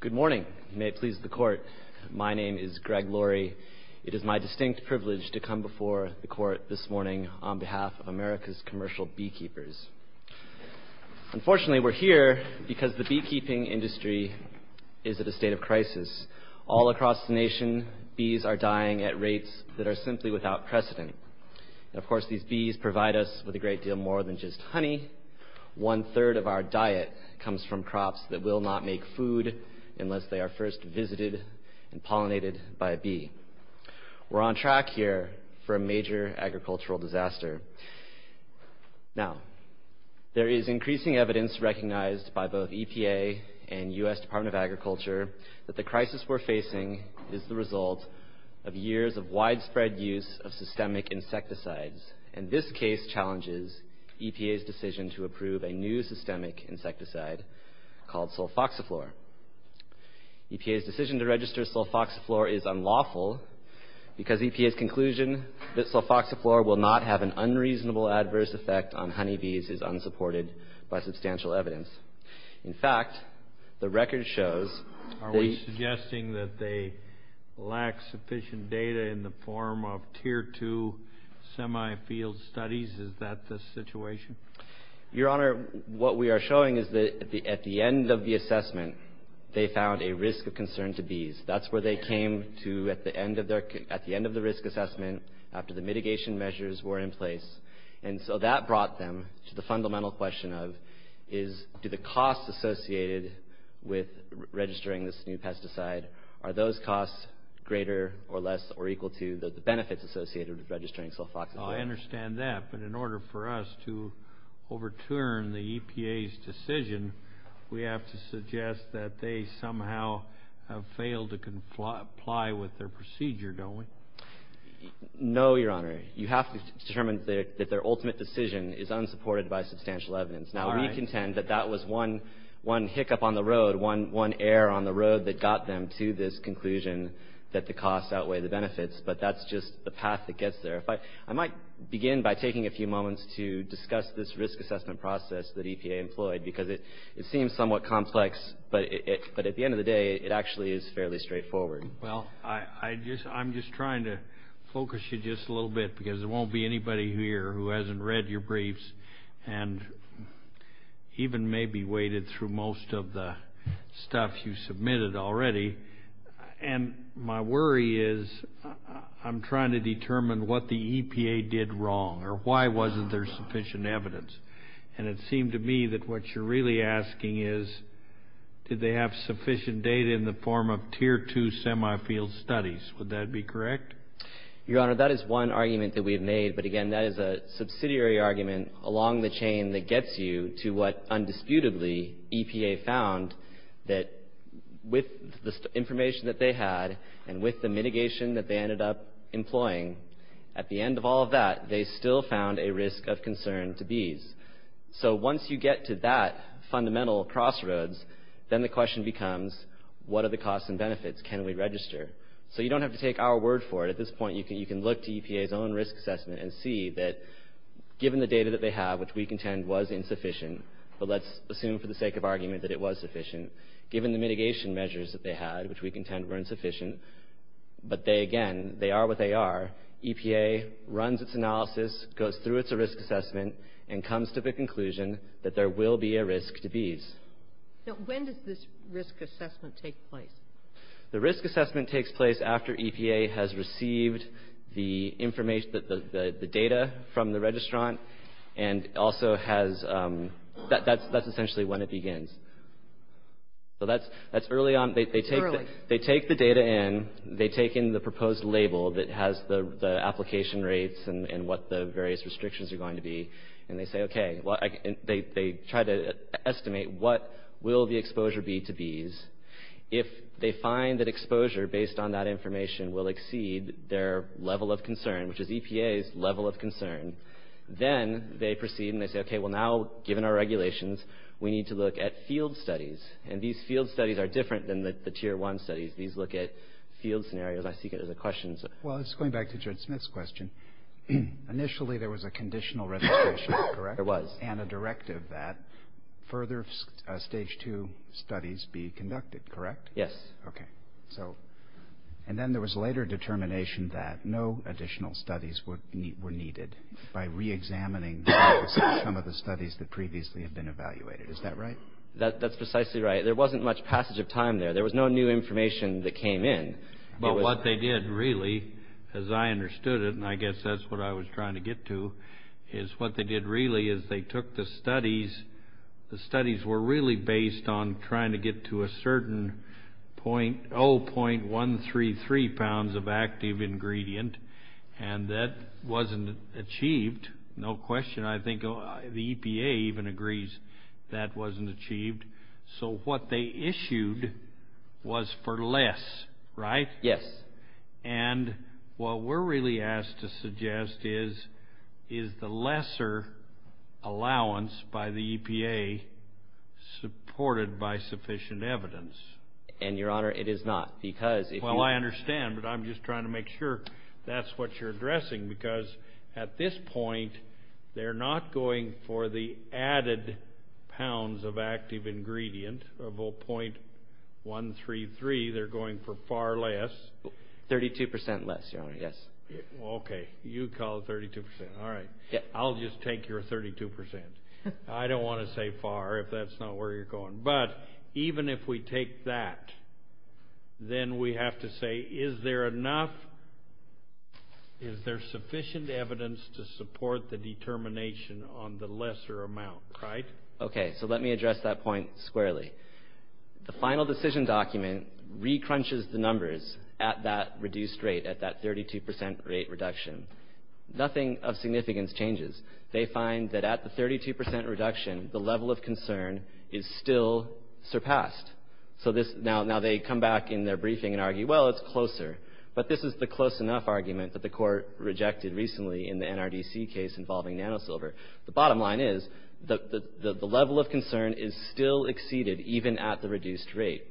Good morning. May it please the court, my name is Greg Laurie. It is my distinct privilege to come before the court this morning on behalf of America's commercial beekeepers. Unfortunately, we're here because the beekeeping industry is at a state of crisis. All across the nation, bees are dying at rates that are simply without precedent. And of course, these bees provide us with a great deal more than just honey. One-third of our diet comes from crops that will not make food unless they are first visited and pollinated by a bee. We're on track here for a major agricultural disaster. Now, there is increasing evidence recognized by both EPA and US Department of Agriculture that the crisis we're facing is the result of years of widespread use of systemic insecticides. And this case challenges EPA's decision to approve a new systemic insecticide called sulfoxiflor. EPA's decision to register sulfoxiflor is unlawful because EPA's conclusion that sulfoxiflor will not have an unreasonable adverse effect on honeybees is unsupported by substantial evidence. In fact, the record shows... Are we suggesting that they lack sufficient data in the form of Tier 2 semi-field studies? Is that the situation? Your Honor, what we are showing is that at the end of the assessment, they found a risk of concern to bees. That's where they came to at the end of the risk assessment after the mitigation measures were in place. And so that brought them to the fundamental question of, do the costs associated with registering this new to the benefits associated with registering sulfoxiflor. I understand that, but in order for us to overturn the EPA's decision, we have to suggest that they somehow have failed to comply with their procedure, don't we? No, Your Honor. You have to determine that their ultimate decision is unsupported by substantial evidence. Now, we contend that that was one hiccup on the road, one error on the road that got them to this conclusion that the costs outweigh the benefits, but that's just the path that gets there. I might begin by taking a few moments to discuss this risk assessment process that EPA employed, because it seems somewhat complex, but at the end of the day, it actually is fairly straightforward. Well, I'm just trying to focus you just a little bit, because there won't be anybody here who hasn't read your briefs and even maybe waded through most of the stuff you submitted already, and my worry is I'm trying to determine what the EPA did wrong, or why wasn't there sufficient evidence, and it seemed to me that what you're really asking is, did they have sufficient data in the form of Tier 2 semifield studies? Would that be correct? Your Honor, that is one argument that we've made, but again, that is a subsidiary argument along the chain that gets you to what, undisputably, EPA found, that with the information that they had, and with the mitigation that they ended up employing, at the end of all of that, they still found a risk of concern to bees. So once you get to that fundamental crossroads, then the question becomes, what are the costs and benefits? Can we register? So you don't have to take our word for it. At this point, you can look to But let's assume, for the sake of argument, that it was sufficient. Given the mitigation measures that they had, which we contend were insufficient, but they, again, they are what they are, EPA runs its analysis, goes through its risk assessment, and comes to the conclusion that there will be a risk to bees. Now, when does this risk assessment take place? The risk assessment takes place after EPA has received the information, the data from the registrant, and also has, that's essentially when it begins. So that's early on, they take the data in, they take in the proposed label that has the application rates and what the various restrictions are going to be, and they say, okay, they try to estimate what will the exposure be to bees. If they find that exposure based on that they proceed and they say, okay, well now, given our regulations, we need to look at field studies. And these field studies are different than the tier one studies. These look at field scenarios. I see there's a question. Well, it's going back to Judge Smith's question. Initially, there was a conditional registration, correct? There was. And a directive that further stage two studies be conducted, correct? Yes. Okay. So, and then there was later determination that no additional studies were needed by reexamining some of the studies that previously had been evaluated. Is that right? That's precisely right. There wasn't much passage of time there. There was no new information that came in. But what they did really, as I understood it, and I guess that's what I was trying to get to, is what they did really is they took the studies. The studies were really based on trying to get to a certain 0.133 pounds of active ingredient. And that wasn't achieved. No question. I think the EPA even agrees that wasn't achieved. So, what they issued was for less, right? Yes. And what we're really asked to suggest is, is the lesser allowance by the EPA supported by sufficient evidence? And, Your Honor, it is not. Because if you... Well, I understand. But I'm just trying to make sure that's what you're addressing. Because at this point, they're not going for the 32% less, Your Honor. Yes. Okay. You call it 32%. All right. I'll just take your 32%. I don't want to say far if that's not where you're going. But even if we take that, then we have to say, is there enough, is there sufficient evidence to support the determination on the lesser amount, right? Okay. So let me address that point squarely. The final decision document re-crunches the numbers at that reduced rate, at that 32% rate reduction. Nothing of significance changes. They find that at the 32% reduction, the level of concern is still surpassed. So now they come back in their briefing and argue, well, it's closer. But this is the close enough argument that the court rejected recently in the NRDC case involving NanoSilver. The bottom line is, the level of concern is still exceeded even at the reduced rate.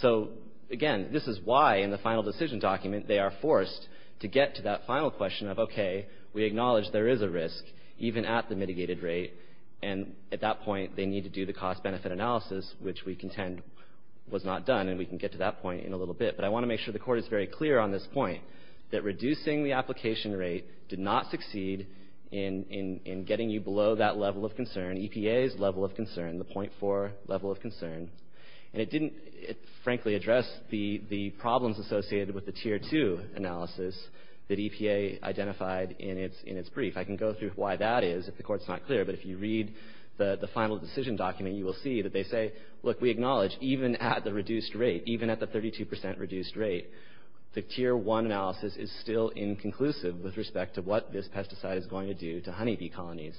So again, this is why in the final decision document they are forced to get to that final question of, okay, we acknowledge there is a risk even at the mitigated rate. And at that point, they need to do the cost-benefit analysis, which we contend was not done. And we can get to that point in a little bit. But I want to make sure the Court is very clear on this point, that reducing the application rate did not succeed in getting you below that level of concern, EPA's level of concern, the .4 level of concern. And it didn't, frankly, address the problems associated with the Tier 2 analysis that EPA identified in its brief. I can go through why that is if the Court's not clear. But if you read the final decision document, you will see that they say, look, we acknowledge, even at the reduced rate, even at the 32% reduced rate, the Tier 1 analysis is still inconclusive with respect to what this pesticide is going to do to honeybee colonies.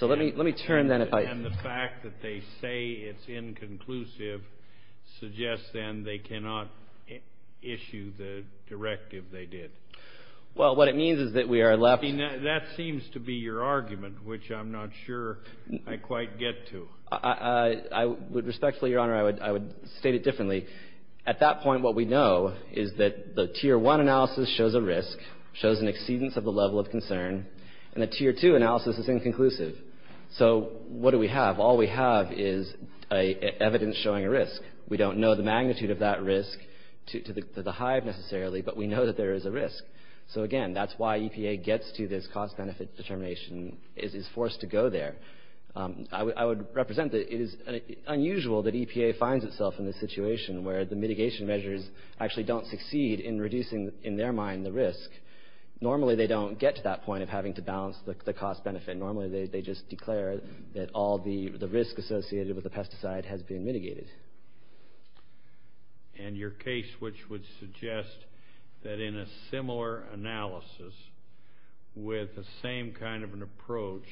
So let me turn then if I... And the fact that they say it's inconclusive suggests then they cannot issue the directive they did. Well, what it means is that we are left... I mean, that seems to be your argument, which I'm not sure I quite get to. I would respectfully, Your Honor, I would state it differently. At that point, what we know is that the Tier 1 analysis shows a risk, shows an exceedance of the level of concern, and the Tier 2 analysis is inconclusive. So what do we have? All we have is evidence showing a risk. We don't know the magnitude of that risk to the hive necessarily, but we know that there is a risk. So again, that's why EPA gets to this cost-benefit determination, is forced to go there. I would represent that it is unusual that EPA finds itself in this situation where the mitigation measures actually don't succeed in reducing, in their mind, the risk. Normally, they don't get to that point of having to balance the cost-benefit. Normally, they just declare that all the risk associated with the pesticide has been mitigated. And your case, which would suggest that in a similar analysis with the same kind of an approach,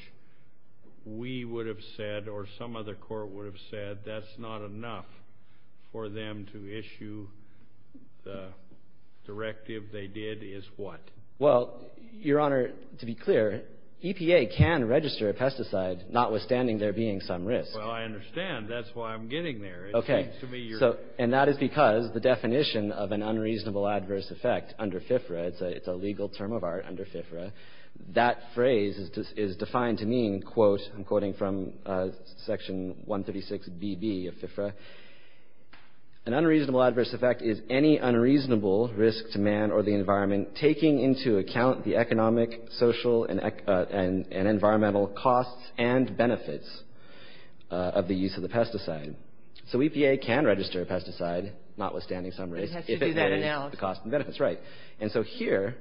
we would have said, or some other court would have said, that's not enough for them to issue the directive they did, is what? Well, Your Honor, to be clear, EPA can register a pesticide, notwithstanding there being some risk. Well, I understand. That's why I'm getting there. Okay. And that is because the definition of an unreasonable adverse effect under FFRA, it's a legal term of art under FFRA, that phrase is defined to mean, quote, I'm quoting from Section 136BB of FFRA, an unreasonable adverse effect is any unreasonable risk to man or the person to account the economic, social, and environmental costs and benefits of the use of the pesticide. So, EPA can register a pesticide, notwithstanding some risk, if it pays the cost and benefits, right. And so, here,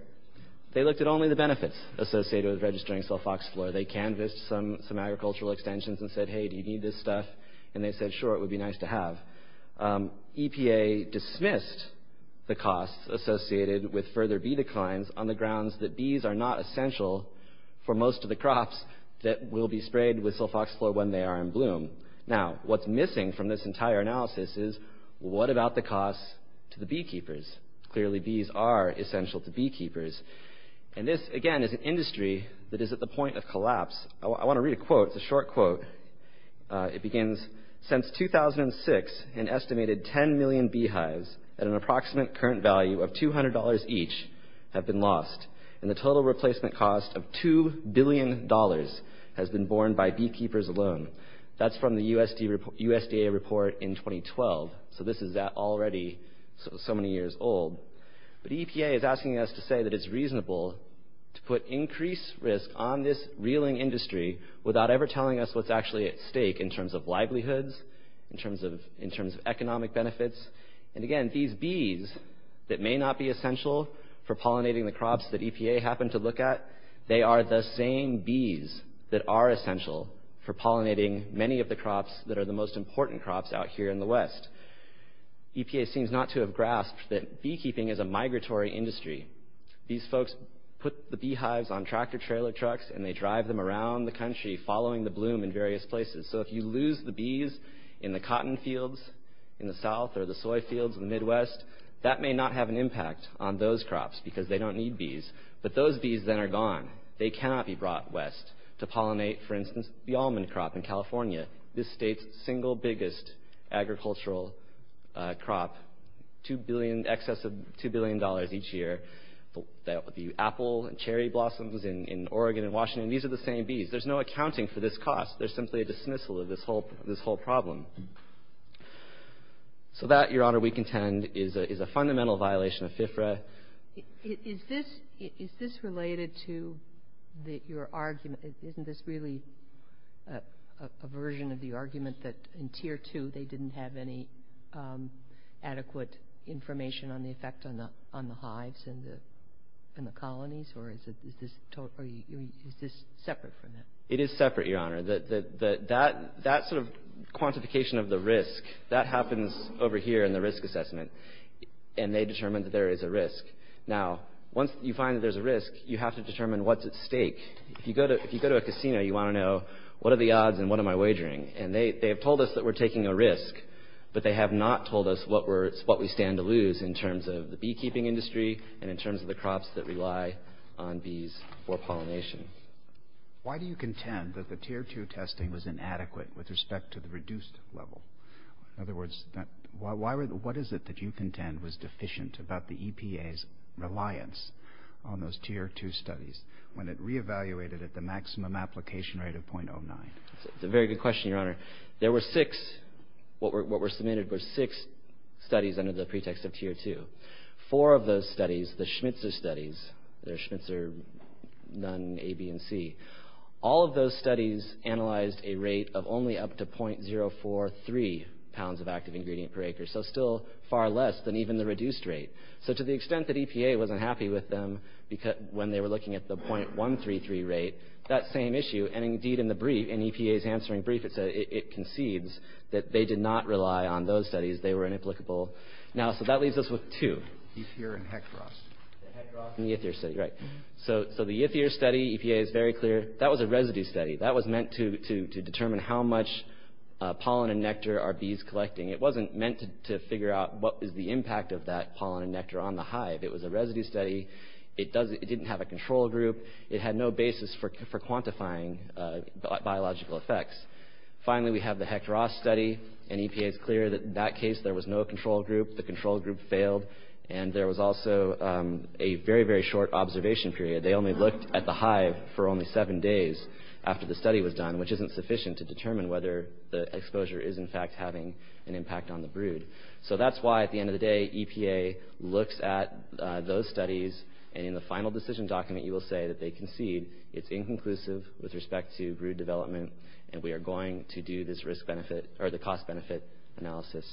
they looked at only the benefits associated with registering sulfoxyfluor. They canvassed some agricultural extensions and said, hey, do you need this stuff? And they said, sure, it would be nice to have. EPA dismissed the costs associated with further bee declines on the grounds that bees are not essential for most of the crops that will be sprayed with sulfoxyfluor when they are in bloom. Now, what's missing from this entire analysis is, what about the costs to the beekeepers? Clearly, bees are essential to beekeepers. And this, again, is an industry that is at the point of collapse. I want to read a quote. It's a short quote. It begins, since 2006, an estimated 10 million beehives at an approximate current value of $200 each have been lost. And the total replacement cost of $2 billion has been borne by beekeepers alone. That's from the USDA report in 2012. So, this is already so many years old. But EPA is asking us to say that it's reasonable to put increased risk on this reeling industry without ever telling us what's actually at stake in terms of livelihoods, in terms of economic benefits. And again, these bees that may not be essential for pollinating the crops that EPA happened to look at, they are the same bees that are essential for pollinating many of the crops that are the most important crops out here in the West. EPA seems not to have grasped that beekeeping is a migratory industry. These folks put the beehives on tractor-trailer trucks, and they drive them around the country following the bloom in various places. So, if you lose the bees in the cotton fields in the South or the soy fields in the Midwest, that may not have an impact on those crops because they don't need bees. But those bees then are gone. They cannot be brought West to pollinate, for instance, the almond crop in California, this state's single biggest agricultural crop, excess of $2 billion each year. The apple and cherry blossoms in Oregon and Washington, these are the same bees. There's no accounting for this cost. There's simply a dismissal of this whole problem. So that, Your Honor, we contend is a fundamental violation of FFRA. Is this related to your argument? Isn't this really a version of the argument that in Tier 2, they didn't have any adequate information on the effect on the hives and the colonies? Or is this separate from that? It is separate, Your Honor. That sort of quantification of the risk, that happens over here in the risk assessment. And they determined that there is a risk. Now, once you find that there's a risk, you have to determine what's at stake. If you go to a casino, you want to know, what are the odds and what am I wagering? And they have told us that we're taking a risk. But they have not told us what we stand to lose in terms of the beekeeping industry and in terms of the crops that rely on bees for pollination. Why do you contend that the Tier 2 testing was inadequate with respect to the reduced level? In other words, what is it that you contend was deficient about the EPA's reliance on those Tier 2 studies when it re-evaluated at the maximum application rate of 0.09? It's a very good question, Your Honor. There were six, what were submitted were six studies under the pretext of Tier 2. Four of those studies, the Schmitzer studies, they're Schmitzer, Nunn, A, B, and C. All of those studies analyzed a rate of only up to 0.043 pounds of active ingredient per acre. So still far less than even the reduced rate. So to the extent that EPA wasn't happy with them when they were looking at the 0.133 rate, that same issue, and indeed in the brief, in EPA's answering brief, it concedes that they did not rely on those studies. They were inapplicable. Now, so that leaves us with two. Yethir and Hectoroth. The Hectoroth and Yethir study, right. So the Yethir study, EPA is very clear. That was a residue study. That was meant to determine how much pollen and nectar are bees collecting. It wasn't meant to figure out what is the impact of that pollen and nectar on the hive. It was a residue study. It didn't have a control group. It had no basis for quantifying biological effects. Finally, we have the Hectoroth study, and EPA is clear that in that case, there was no control group. The control group failed. And there was also a very, very short observation period. They only looked at the hive for only seven days after the study was done, which isn't sufficient to determine whether the exposure is, in fact, having an impact on the brood. So that's why, at the end of the day, EPA looks at those studies, and in the final decision document, you will say that they concede it's inconclusive with respect to brood development, and we are going to do this risk-benefit, or the cost-benefit analysis.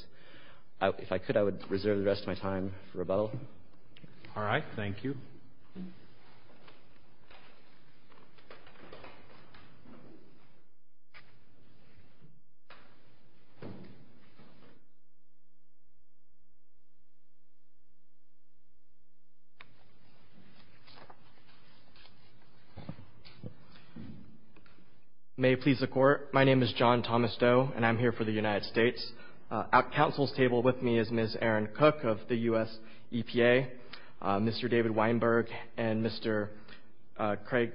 If I could, I would reserve the rest of my time for rebuttal. All right. Thank you. May it please the Court. My name is John Thomas Doe, and I'm here for the United States. At counsel's table with me is Ms. Erin Cook of the U.S. EPA, Mr. David Weinberg, and Mr. Craig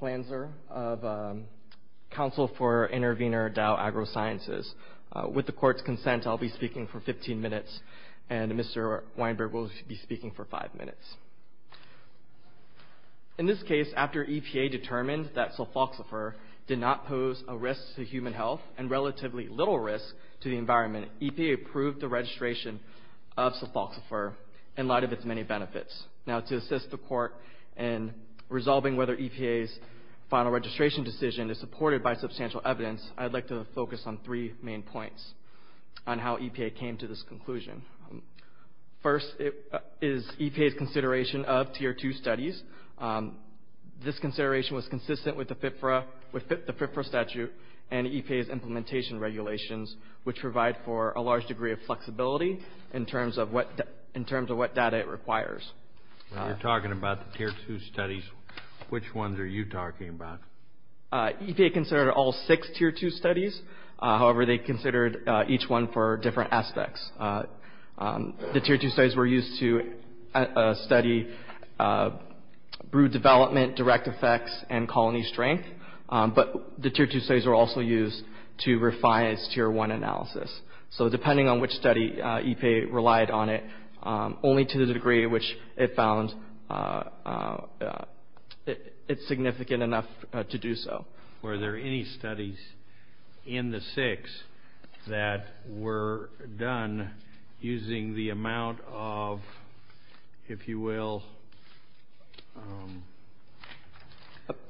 Flanser of Council for Intervenor Dow Agro-Sciences. With the Court's consent, I'll be speaking for 15 minutes, and Mr. Weinberg will be speaking for five minutes. In this case, after EPA determined that sulfoxifer did not pose a risk to human or a potential risk to the environment, EPA approved the registration of sulfoxifer in light of its many benefits. Now, to assist the Court in resolving whether EPA's final registration decision is supported by substantial evidence, I'd like to focus on three main points on how EPA came to this conclusion. First is EPA's consideration of Tier 2 studies. This consideration was consistent with the FFRA statute and EPA's implementation regulations, which provide for a large degree of flexibility in terms of what data it requires. You're talking about the Tier 2 studies. Which ones are you talking about? EPA considered all six Tier 2 studies. However, they considered each one for different aspects. The Tier 2 studies were used to study brood development, direct effects, and colony strength. But the Tier 2 studies were also used to refine its Tier 1 analysis. So, depending on which study EPA relied on it, only to the degree which it found it significant enough to do so. Were there any studies in the six that were done using the amount of, if you will...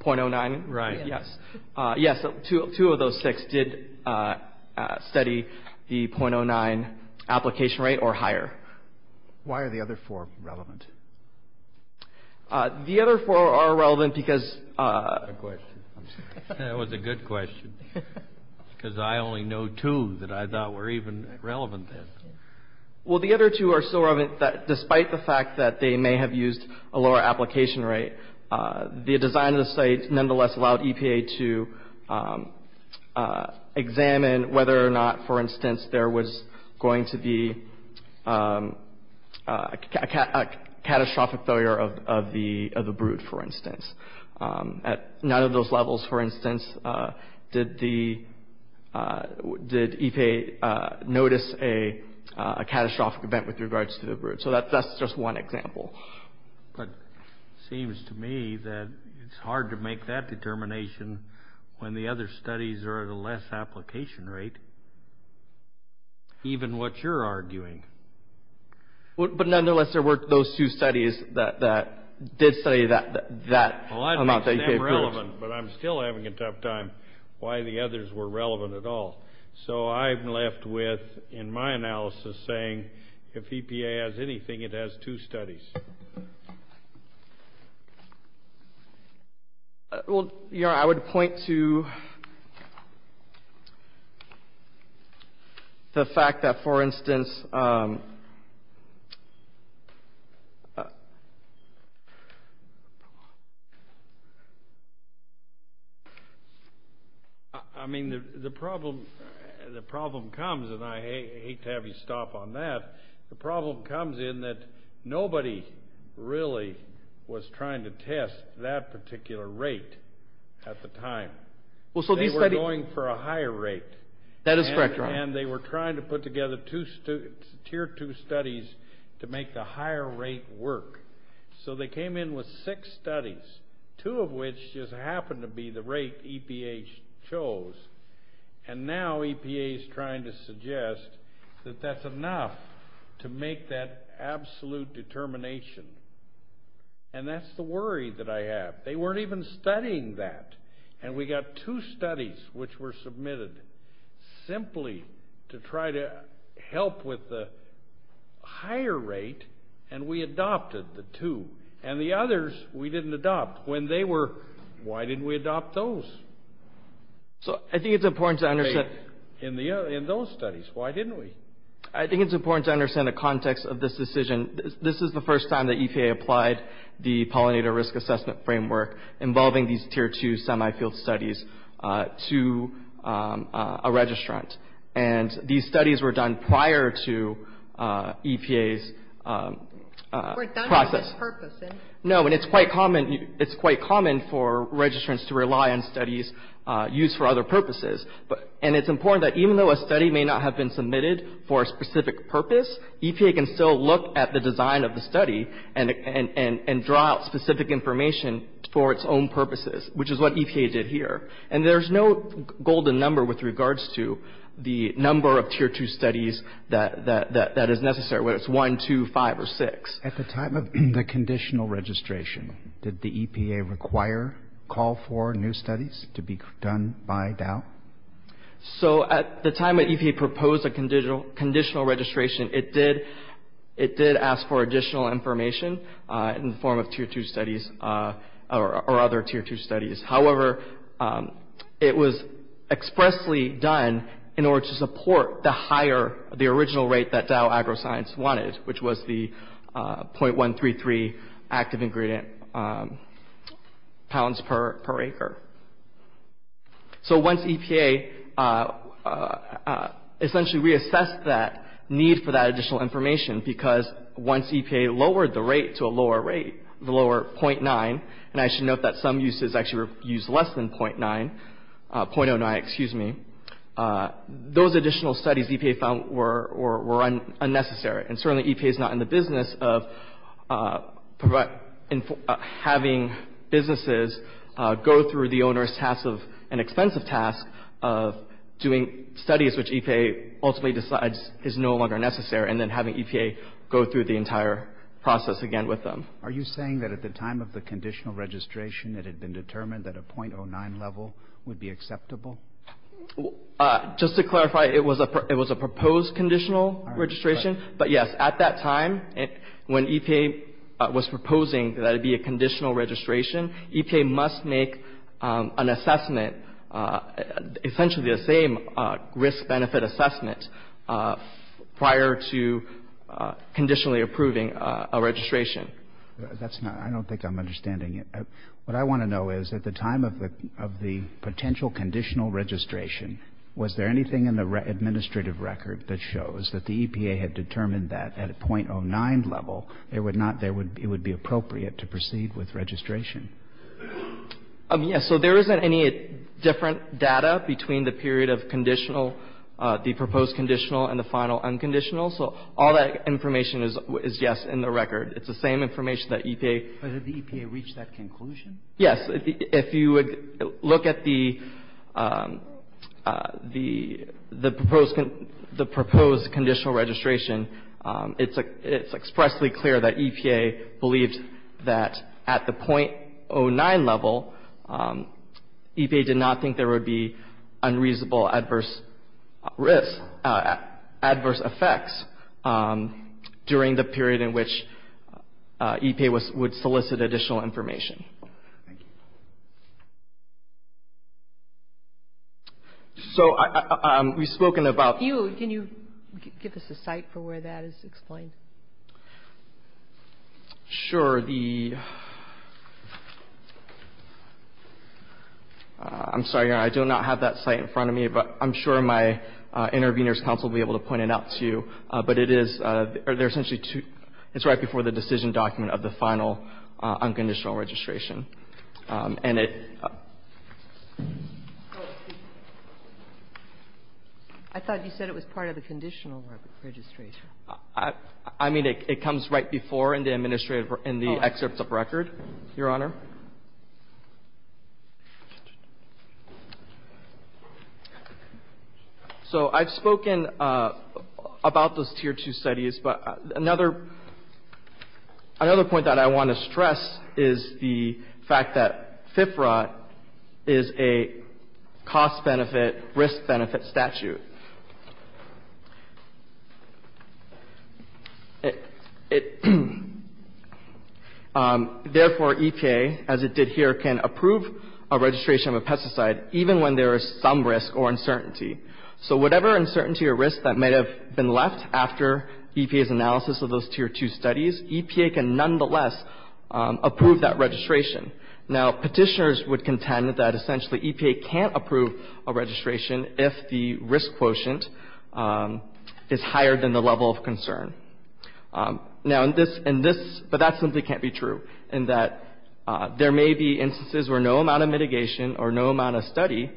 0.09? Right. Yes. Yes, two of those six did study the 0.09 application rate or higher. Why are the other four relevant? The other four are relevant because... Good question. That was a good question. Because I only know two that I thought were even relevant then. Well, the other two are so relevant that despite the fact that they may have used a lower application rate, the design of the study nonetheless allowed EPA to examine whether or not, for instance, there was going to be a catastrophic failure of the brood, for instance. At none of those levels, for instance, did EPA notice a catastrophic event with regards to the brood. So, that's just one example. But it seems to me that it's hard to make that determination when the other studies are at a less application rate, even what you're arguing. But nonetheless, there were those two studies that did study that amount that EPA... Well, I'd make them relevant, but I'm still having a tough time why the others were relevant at all. So, I'm left with, in my analysis, saying if EPA has anything, it has two studies. I would point to the fact that, for instance... I mean, the problem comes, and I hate to have you stop on that. The problem comes in that nobody really was trying to test that particular rate at the time. They were going for a higher rate. That is correct, Your Honor. And they were trying to put together tier two studies to make the higher rate work. So, they came in with six studies, two of which just happened to be the rate EPA chose. And now EPA is trying to suggest that that's enough to make that absolute determination. And that's the worry that I have. They weren't even studying that. And we got two studies which were submitted simply to try to help with the higher rate. And we adopted the two. And the others, we didn't adopt. When they were... Why didn't we adopt those? So, I think it's important to understand... In those studies. Why didn't we? I think it's important to understand the context of this decision. This is the first time that EPA applied the pollinator risk assessment framework involving these tier two semi-field studies to a registrant. And these studies were done prior to EPA's process. Were done for this purpose. No. And it's quite common for registrants to rely on studies used for other purposes. And it's important that even though a study may not have been submitted for a specific purpose, EPA can still look at the design of the study and draw out specific information for its own purposes. Which is what EPA did here. And there's no golden number with regards to the number of tier two studies that is necessary. Whether it's one, two, five, or six. At the time of the conditional registration, did the EPA require, call for new studies to be done by Dow? So at the time that EPA proposed a conditional registration, it did ask for additional information in the form of tier two studies. Or other tier two studies. However, it was expressly done in order to support the higher, the original rate that Dow AgroScience wanted. Which was the .133 active ingredient pounds per acre. So once EPA essentially reassessed that need for that additional information, because once EPA lowered the rate to a lower rate, the lower .9, and I should note that some uses actually use less than .9, .09, excuse me. Those additional studies EPA found were unnecessary. And certainly EPA is not in the business of having businesses go through the onerous task of, an expensive task of doing studies which EPA ultimately decides is no longer necessary. And then having EPA go through the entire process again with them. Are you saying that at the time of the conditional registration, it had been determined that a .09 level would be acceptable? Just to clarify, it was a proposed conditional registration. But yes, at that time, when EPA was proposing that it be a conditional registration, EPA must make an assessment, essentially the same risk benefit assessment, prior to conditionally approving a registration. That's not, I don't think I'm understanding it. What I want to know is, at the time of the potential conditional registration, was there anything in the administrative record that shows that the EPA had determined that at a .09 level, it would not, it would be appropriate to proceed with registration? Yes. So there isn't any different data between the period of conditional, the proposed conditional and the final unconditional. So all that information is yes, in the record. It's the same information that EPA. But did the EPA reach that conclusion? Yes. If you look at the proposed conditional registration, it's expressly clear that EPA believed that at the .09 level, EPA did not think there would be unreasonable adverse risks, adverse effects, during the period in which EPA would solicit additional information. Thank you. So we've spoken about. Can you give us a site for where that is explained? Sure. The, I'm sorry, Your Honor, I do not have that site in front of me, but I'm sure my intervener's counsel will be able to point it out to you. But it is, there's essentially two, it's right before the decision document of the final unconditional registration. And it. I thought you said it was part of the conditional registration. I mean, it comes right before in the administrative, in the excerpts of record, Your Honor. So I've spoken about those tier 2 studies. But another point that I want to stress is the fact that FFRA is a cost benefit, risk benefit statute. It, therefore, EPA, as it did here, can approve a registration of a pesticide even when there is some risk or uncertainty. So whatever uncertainty or risk that might have been left after EPA's analysis of those tier 2 studies, EPA can nonetheless approve that registration. Now, petitioners would contend that essentially EPA can't approve a registration if the risk quotient is higher than the level of concern. Now, in this, but that simply can't be true, in that there may be instances where no amount of mitigation or no amount of study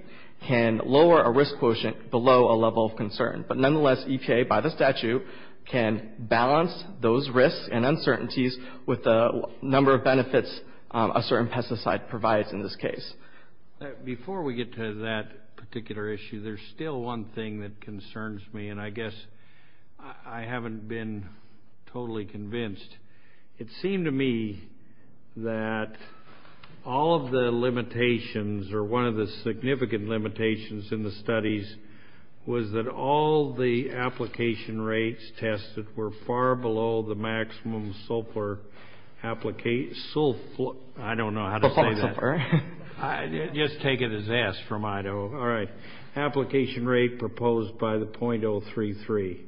can lower a risk quotient below a level of concern. But nonetheless, EPA, by the statute, can balance those risks and uncertainties with the number of benefits a certain pesticide provides in this case. Before we get to that particular issue, there's still one thing that concerns me and I guess I haven't been totally convinced. It seemed to me that all of the limitations or one of the significant limitations in the studies was that all the application rates tested were far below the maximum sulfur I don't know how to say that. Just take it as S from Idaho. All right. Application rate proposed by the .033.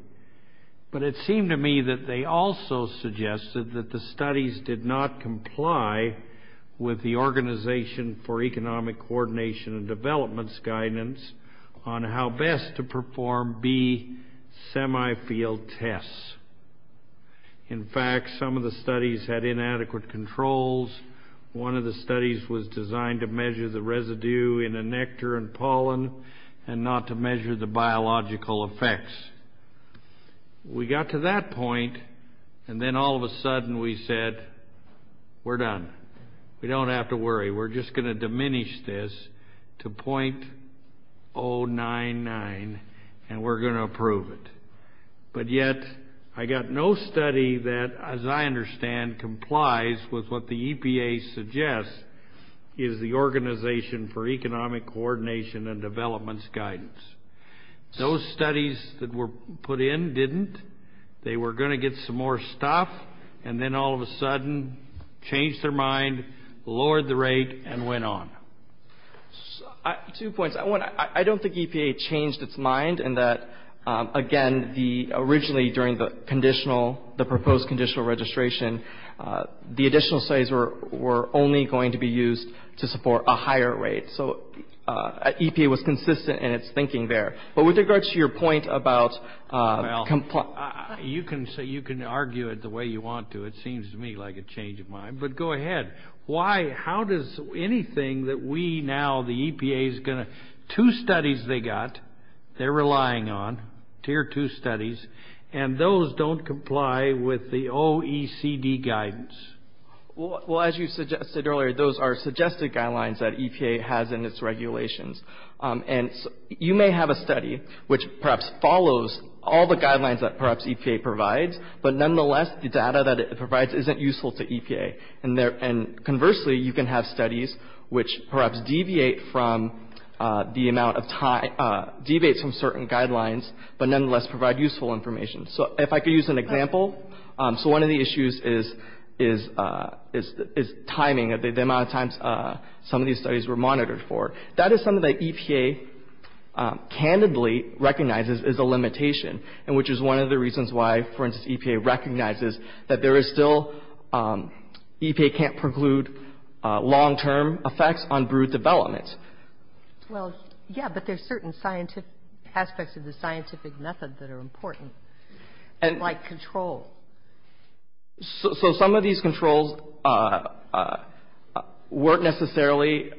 But it seemed to me that they also suggested that the studies did not comply with the Organization for Economic Coordination and Development's guidance on how best to perform B semi-field tests. In fact, some of the studies had inadequate controls. One of the studies was designed to measure the residue in a nectar and pollen and not to measure the biological effects. We got to that point and then all of a sudden we said, we're done. We don't have to worry. We're just going to diminish this to .099 and we're going to approve it. But yet, I got no study that, as I understand, complies with what the EPA suggests is the Organization for Economic Coordination and Development's guidance. Those studies that were put in didn't. They were going to get some more stuff and then all of a sudden changed their mind, lowered the rate, and went on. Two points. One, I don't think EPA changed its mind in that, again, originally during the proposed conditional registration, the additional studies were only going to be used to support a higher rate. So EPA was consistent in its thinking there. But with regards to your point about... Well, you can argue it the way you want to. It seems to me like a change of mind. But go ahead. Why? How does anything that we now, the EPA is going to... Two studies they got they're relying on, Tier 2 studies, and those don't comply with the OECD guidance. Well, as you suggested earlier, those are suggested guidelines that EPA has in its regulations. And you may have a study which perhaps follows all the guidelines that perhaps EPA provides, but nonetheless, the data that it provides isn't useful to EPA. And conversely, you can have studies which perhaps deviates from certain guidelines, but nonetheless provide useful information. So if I could use an example. So one of the issues is timing, the amount of times some of these studies were monitored for. That is something that EPA candidly recognizes is a limitation, and which is one of the reasons why, for instance, EPA recognizes that there is still, EPA can't preclude long-term effects on brewed development. Well, yeah, but there's certain aspects of the scientific method that are important, like control. So some of these controls weren't necessarily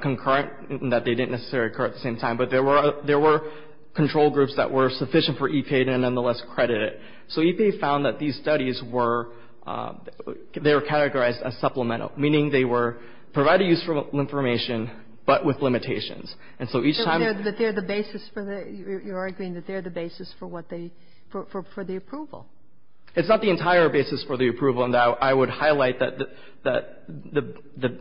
concurrent, that they didn't necessarily occur at the same time, but there were control groups that were sufficient for EPA to nonetheless credit it. So EPA found that these studies were, they were categorized as supplemental, meaning they were providing useful information, but with limitations. And so each time... But they're the basis for the, you're arguing that they're the basis for what they, for the approval. It's not the entire basis for the approval, and I would highlight that the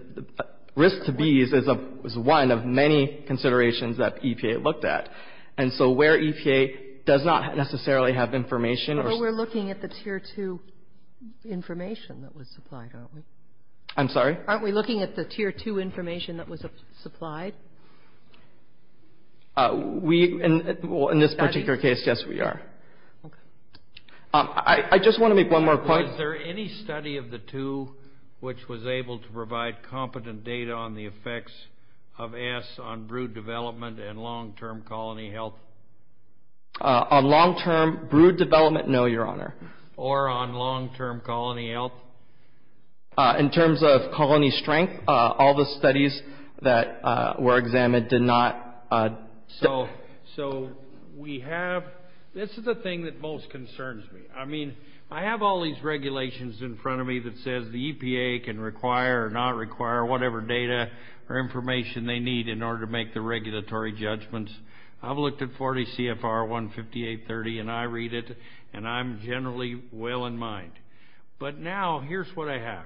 risk to bees is one of many considerations that EPA looked at. And so where EPA does not necessarily have information or... I'm sorry? Aren't we looking at the Tier 2 information that was supplied? We, in this particular case, yes, we are. Okay. I just want to make one more point. Was there any study of the two which was able to provide competent data on the effects of acid on brewed development and long-term colony health? On long-term brewed development, no, Your Honor. Or on long-term colony health? In terms of colony strength, all the studies that were examined did not... So we have... This is the thing that most concerns me. I mean, I have all these regulations in front of me that says the EPA can require or not require whatever data or information they need in order to make the regulatory judgments. I've looked at 40 CFR 15830, and I read it, and I'm generally well in mind. But now, here's what I have.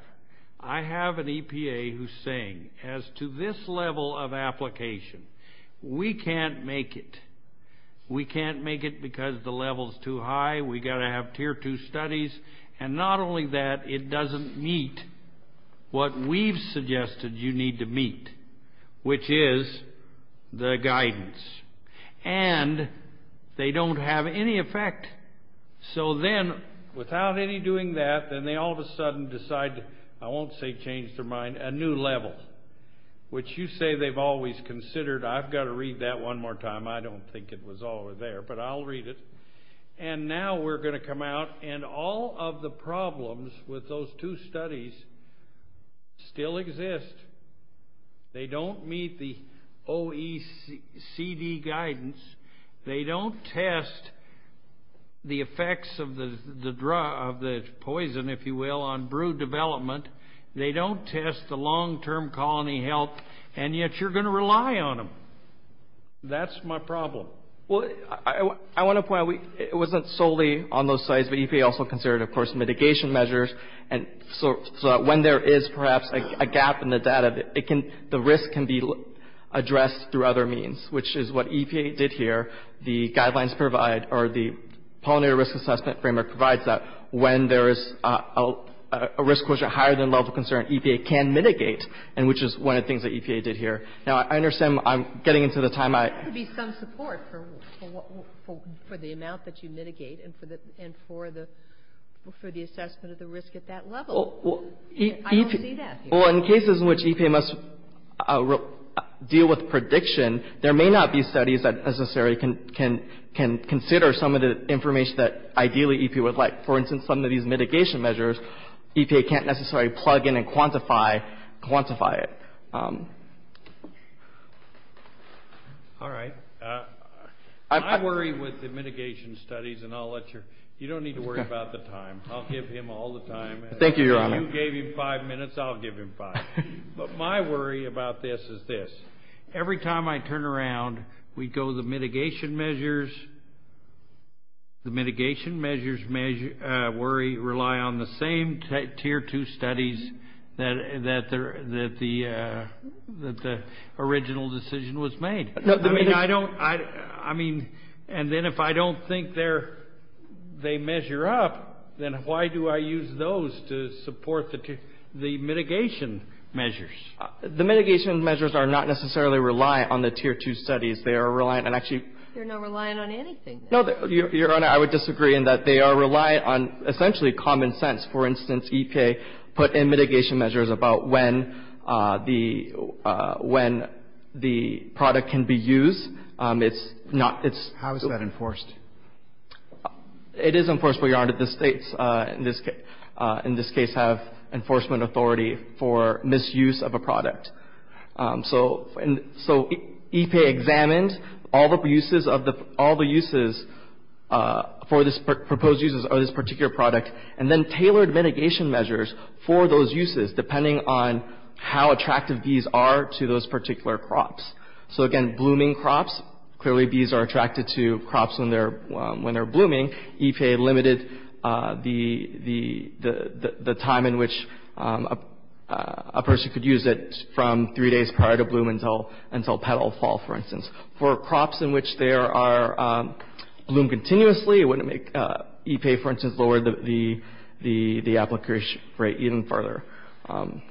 I have an EPA who's saying, as to this level of application, we can't make it. We can't make it because the level's too high. We got to have Tier 2 studies. And not only that, it doesn't meet what we've suggested you need to meet, which is the guidance. And they don't have any effect. So then, without any doing that, then they all of a sudden decide, I won't say change their mind, a new level, which you say they've always considered. I've got to read that one more time. I don't think it was all there, but I'll read it. And now we're going to come out, and all of the problems with those two studies still exist. They don't meet the OECD guidance. They don't test the effects of the poison, if you will, on brew development. They don't test the long-term colony health, and yet you're going to rely on them. That's my problem. Well, I want to point out, it wasn't solely on those studies, but EPA also considered, of course, mitigation measures, so that when there is perhaps a gap in the data, the risk can be addressed through other means, which is what EPA did here. The guidelines provide, or the Pollinator Risk Assessment Framework provides that when there is a risk quotient higher than level of concern, EPA can mitigate, and which is one of the things that EPA did here. Now, I understand I'm getting into the time I... There has to be some support for the amount that you mitigate and for the assessment of the risk at that level. I don't see that here. Well, in cases in which EPA must deal with prediction, there may not be studies that necessarily can consider some of the information that ideally EPA would like. For instance, some of these mitigation measures, EPA can't necessarily plug in and quantify it. All right. I worry with the mitigation studies, and I'll let your... You don't need to worry about the time. I'll give him all the time. Thank you, Your Honor. If you gave him five minutes, I'll give him five. But my worry about this is this. Every time I turn around, we go to the mitigation measures. The mitigation measures rely on the same Tier 2 studies that the original decision was made. I mean, I don't... And then if I don't think they measure up, then why do I use those to support the mitigation measures? The mitigation measures are not necessarily reliant on the Tier 2 studies. They are reliant on actually... You're not reliant on anything. No, Your Honor, I would disagree in that they are reliant on essentially common sense. For instance, EPA put in mitigation measures about when the product can be used. It's not... How is that enforced? It is enforced, but, Your Honor, the states, in this case, have enforcement authority for misuse of a product. EPA examined all the uses for this proposed uses of this particular product and then tailored mitigation measures for those uses, depending on how attractive bees are to those particular crops. Again, blooming crops, clearly bees are attracted to crops when they're blooming. EPA limited the time in which a person could use it from three days prior to bloom until petal fall, for instance. For crops in which they bloom continuously, it wouldn't make... EPA, for instance, lowered the application rate even further. I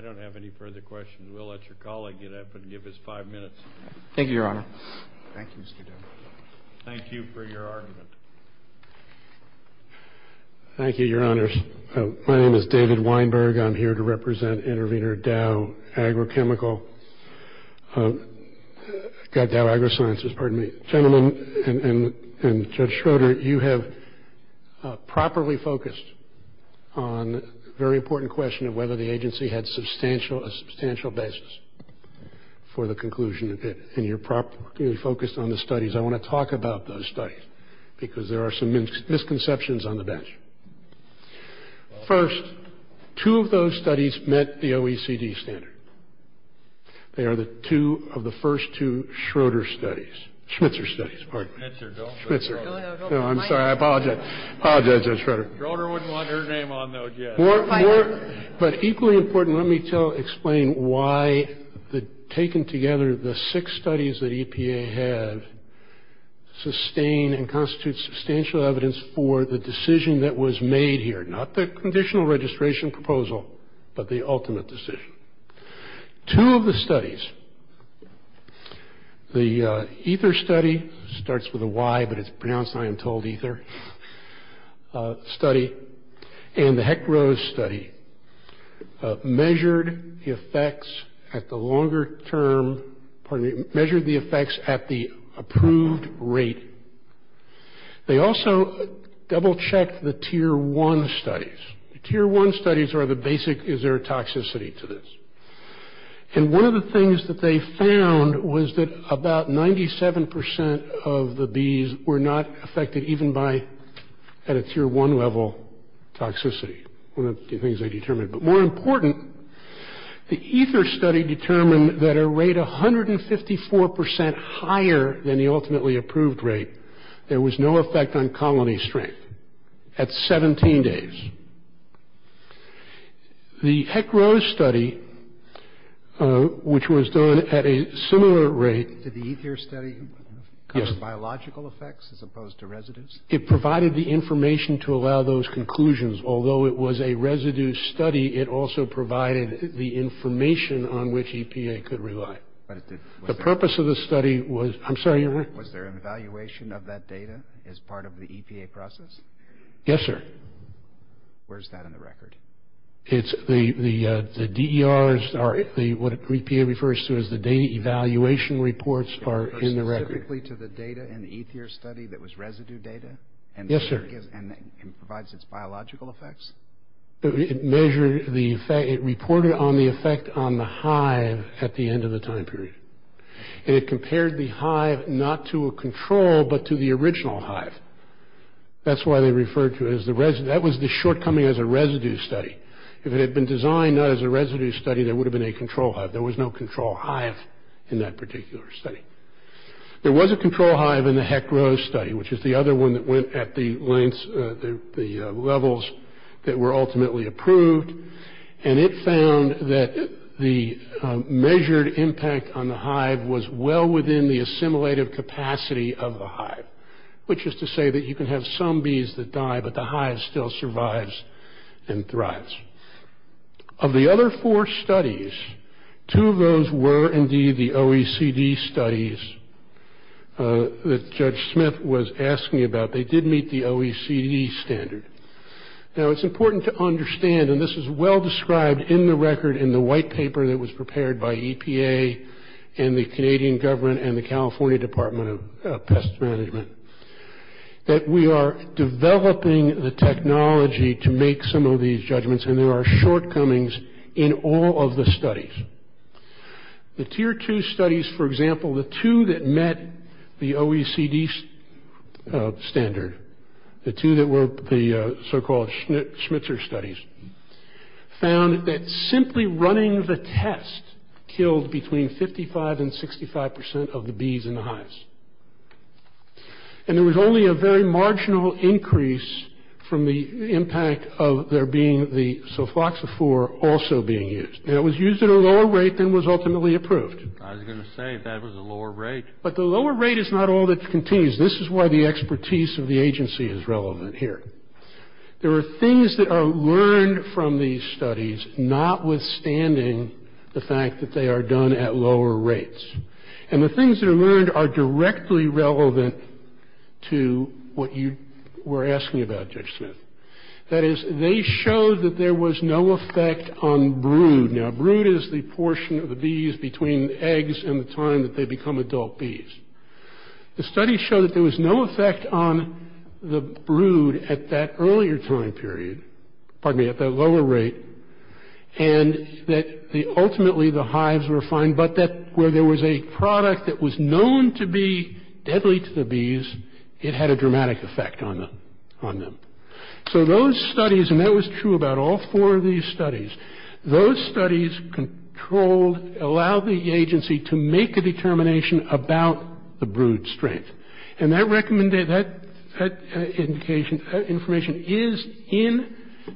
don't have any further questions. We'll let your colleague get up and give his five minutes. Thank you, Your Honor. Thank you for your argument. Thank you, Your Honors. My name is David Weinberg. I'm here to represent intervener Dow Agrochemical... Dow AgroSciences, pardon me. Gentlemen, and Judge Schroeder, you have properly focused on a very important question of whether the agency had a substantial basis for the conclusion of it. And you're properly focused on the studies. I want to talk about those studies because there are some misconceptions on the bench. First, two of those studies met the OECD standard. They are the two of the first two Schroeder studies. Schmitzer studies, pardon me. Schmitzer. No, I'm sorry. I apologize, Judge Schroeder. Schroeder wouldn't want her name on those yet. But equally important, let me explain why the taken together, the six studies that EPA have sustain and constitute substantial evidence for the decision that was made here. Not the conditional registration proposal but the ultimate decision. Two of the studies, the Ether study, starts with a Y, but it's pronounced I am told Ether study. And the Heck-Rose study measured the effects at the longer term measured the effects at the approved rate. They also double checked the Tier 1 studies. Tier 1 studies are the basic, is there toxicity to this? And one of the things that they found was that about 97% of the bees were not affected even by, at a Tier 1 level, toxicity. One of the things they determined. But more important, the Ether study determined that a rate 154% higher than the ultimately approved rate there was no effect on colony strength at 17 days. The Heck-Rose study which was done at a similar rate Did the Ether study have biological effects as opposed to residues? It provided the information to allow those conclusions. Although it was a residue study, it also provided the information on which EPA could rely. The purpose of the study was Was there an evaluation of that data as part of the EPA process? Yes sir. Where's that in the record? It's the DER what EPA refers to as the data evaluation reports are in the record. Specifically to the data in the Ether study that was residue data? Yes sir. And provides its biological effects? It reported on the effect on the hive at the end of the time period. And it compared the hive not to a control but to the original hive. That's why they referred to it as the residue. That was the shortcoming as a residue study. If it had been designed not as a residue study there would have been a control hive. There was no control hive in that particular study. There was a control hive in the Heck Rose study which is the other one that went at the levels that were ultimately approved and it found that the measured impact on the hive was well within the assimilative capacity of the hive. Which is to say that you can have some bees that die but the hive still survives and thrives. Of the other four studies, two of those were indeed the OECD studies that Judge Smith was asking about. They did meet the OECD standard. Now it's important to understand and this is well described in the record in the white paper that was prepared by EPA and the Canadian government and the California Department of Pest Management that we are developing the technology to make some of these judgments and there are shortcomings in all of the studies. The tier two studies for example the two that met the OECD standard the two that were the so called Schmitzer studies found that simply running the test killed between 55 and 65% of the bees in the hives. And there was only a very marginal increase from the impact of there being the sulfoxaphore also being used and it was used at a lower rate than was ultimately approved. I was going to say that was a lower rate. But the lower rate is not all that continues this is why the expertise of the agency is relevant here. There are things that are learned from these studies not withstanding the fact that they are done at lower rates and the things that are learned are directly relevant to what you were asking about Judge Smith. That is they showed that there was no effect on brood. Now brood is the portion of the bees between eggs and the time that they become adult bees. The study showed that there was no effect on the brood at that earlier time period, pardon me, at that lower rate ultimately the hives were fine but that where there was a product that was known to be deadly to the bees it had a dramatic effect on them. So those studies and that was true about all four of these studies those studies controlled allow the agency to make a determination about the brood strength. That information is in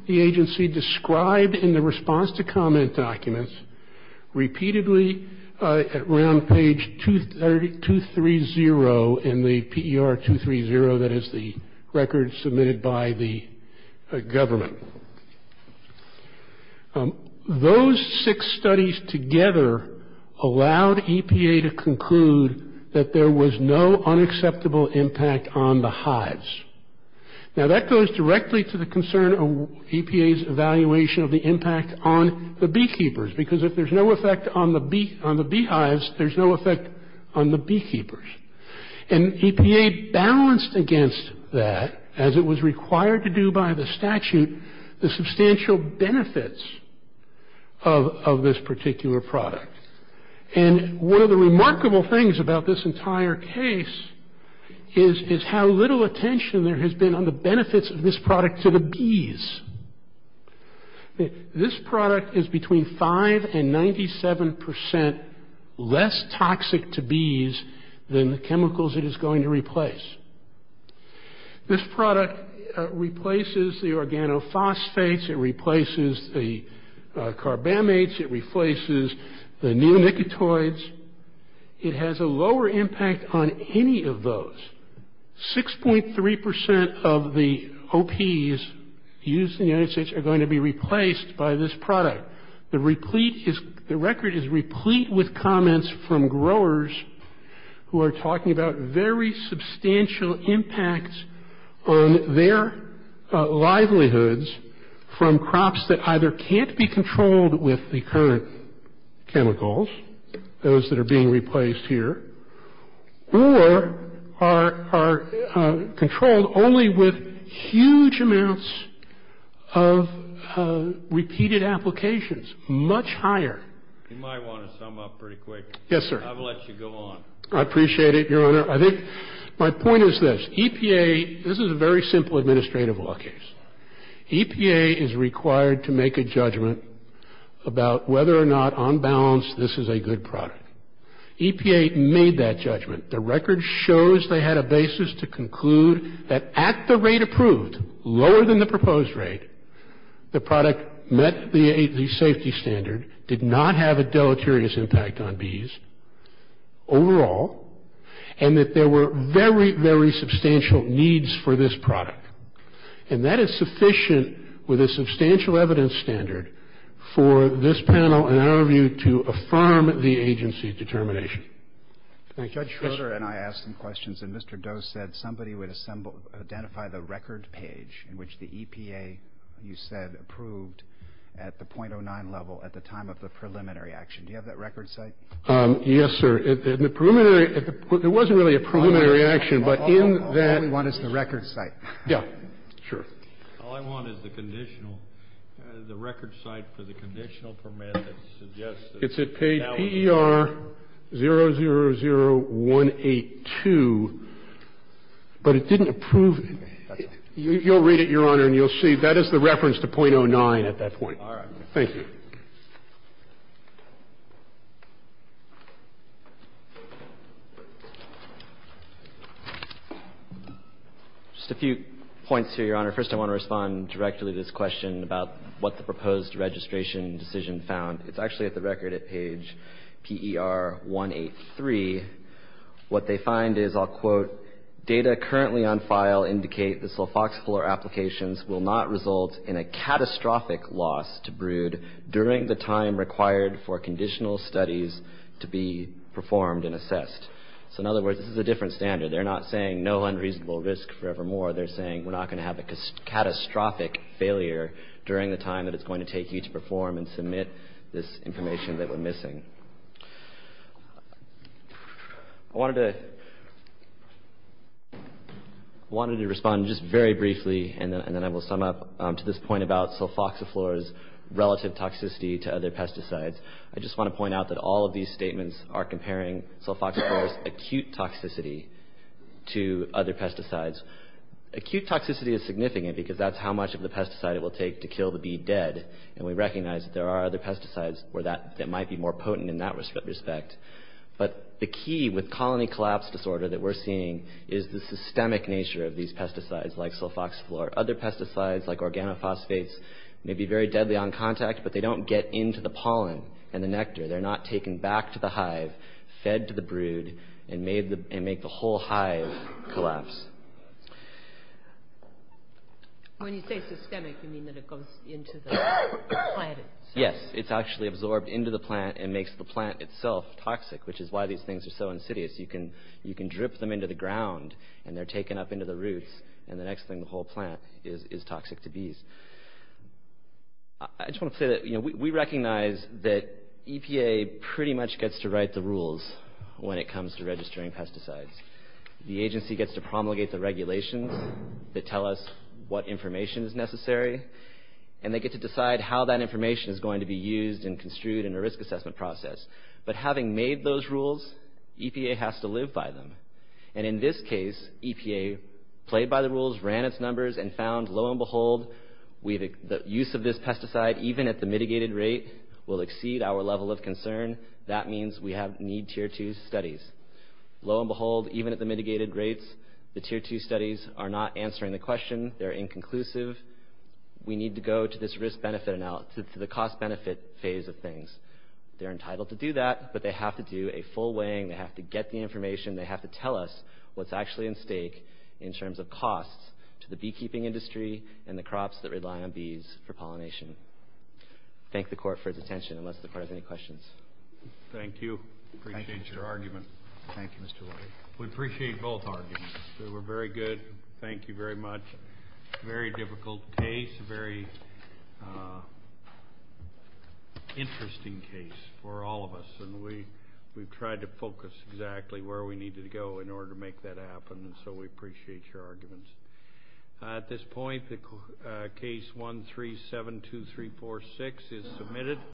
the agency described in the response to comment documents repeatedly around page 230 and the PER 230 that is the record submitted by the government. Those six studies together allowed EPA to conclude that there was no unacceptable impact on the hives. Now that goes directly to the concern of EPA's evaluation of the impact on the beekeepers because if there is no effect on the beehives there is no effect on the beekeepers. And EPA balanced against that as it was required to do by the statute the substantial benefits of this particular product. And one of the remarkable things about this entire case is how little attention there has been on the benefits of this product to the bees. This product is between 5 and 97 percent less toxic to bees than the chemicals it is going to replace. This product replaces the organophosphates, it replaces the carbamates, it replaces the neonicotinoids. It has a lower impact on any of those. 6.3 percent of the OPs used in the United States are going to be replaced by this product. The record is replete with comments from growers who are talking about very substantial impacts on their livelihoods from crops that either can't be controlled with the current chemicals, those that are being replaced here, or are controlled only with huge amounts of repeated applications. Much higher. Yes, sir. I appreciate it, Your Honor. My point is this. EPA, this is a very simple administrative law case. EPA is required to make a judgment about whether or not on balance this is a good product. EPA made that judgment. The record shows they had a basis to conclude that at the rate approved, lower than the proposed rate, the product met the safety standard, did not have a deleterious impact on bees, overall, and that there were very, very substantial needs for this product. And that is sufficient with a substantial evidence standard for this panel, in our view, to affirm the agency determination. Judge Schroeder and I asked some questions and Mr. Doe said somebody would identify the record page in which the EPA you said approved at the .09 level at the time of the preliminary action. Do you have that record site? Yes, sir. It wasn't really a preliminary action, but in that... All I want is the record site. All I want is the conditional the record site for the conditional permit that suggests... It's at page PER 000182 But it didn't approve... You'll read it, Your Honor, and you'll see that is the reference to .09 at that point. Thank you. Just a few points here, Your Honor. First, I want to respond directly to this question about what the proposed registration decision found. It's actually at the record at page PER 183. What they find is, I'll quote, data currently on file indicate the sulfoxyfluoride applications will not result in a catastrophic loss to brood during the time required for conditional studies to be performed and assessed. So, in other words, this is a different standard. They're not saying no unreasonable risk forevermore. They're saying we're not going to have a catastrophic failure during the time that it's going to take you to perform and submit this information that we're missing. I wanted to respond just very briefly, and then I will sum up to this point about sulfoxyfluoride's relative toxicity to other pesticides. I just want to point out that all of these statements are comparing sulfoxyfluoride's acute toxicity to other pesticides. Acute toxicity is significant because that's how much of the pesticide it will take to kill the bee dead, and we recognize that there are other pesticides that might be more potent in that respect. But the key with colony collapse disorder that we're seeing is the systemic nature of these pesticides like sulfoxyfluoride. Other pesticides like organophosphates may be very deadly on contact, but they don't get into the pollen and the nectar. They're not taken back to the hive, fed to the brood, and make the whole hive collapse. When you say systemic, you mean that it goes into the plant itself? Yes. It's actually absorbed into the plant and makes the plant itself toxic, which is why these things are so insidious. You can drip them into the ground and they're taken up into the roots and the next thing, the whole plant is toxic to bees. I just want to say that we recognize that EPA pretty much gets to write the rules when it comes to registering pesticides. The agency gets to promulgate the regulations that tell us what information is necessary and they get to decide how that is distributed in a risk assessment process. But having made those rules, EPA has to live by them. In this case, EPA played by the rules, ran its numbers, and found, lo and behold, the use of this pesticide, even at the mitigated rate, will exceed our level of concern. That means we need Tier 2 studies. Lo and behold, even at the mitigated rates, the Tier 2 studies are not answering the question. They're inconclusive. We need to go to this cost-benefit phase of things. They're entitled to do that, but they have to do a full weighing, they have to get the information, they have to tell us what's actually at stake in terms of costs to the beekeeping industry and the crops that rely on bees for pollination. Thank the Court for its attention. Unless the Court has any questions. Thank you. Appreciate your argument. We appreciate both arguments. They were very good. Thank you very much. Very difficult case. Very interesting case for all of us. We've tried to focus exactly where we needed to go in order to make that happen, so we appreciate your arguments. At this point, Case 1372346 is submitted.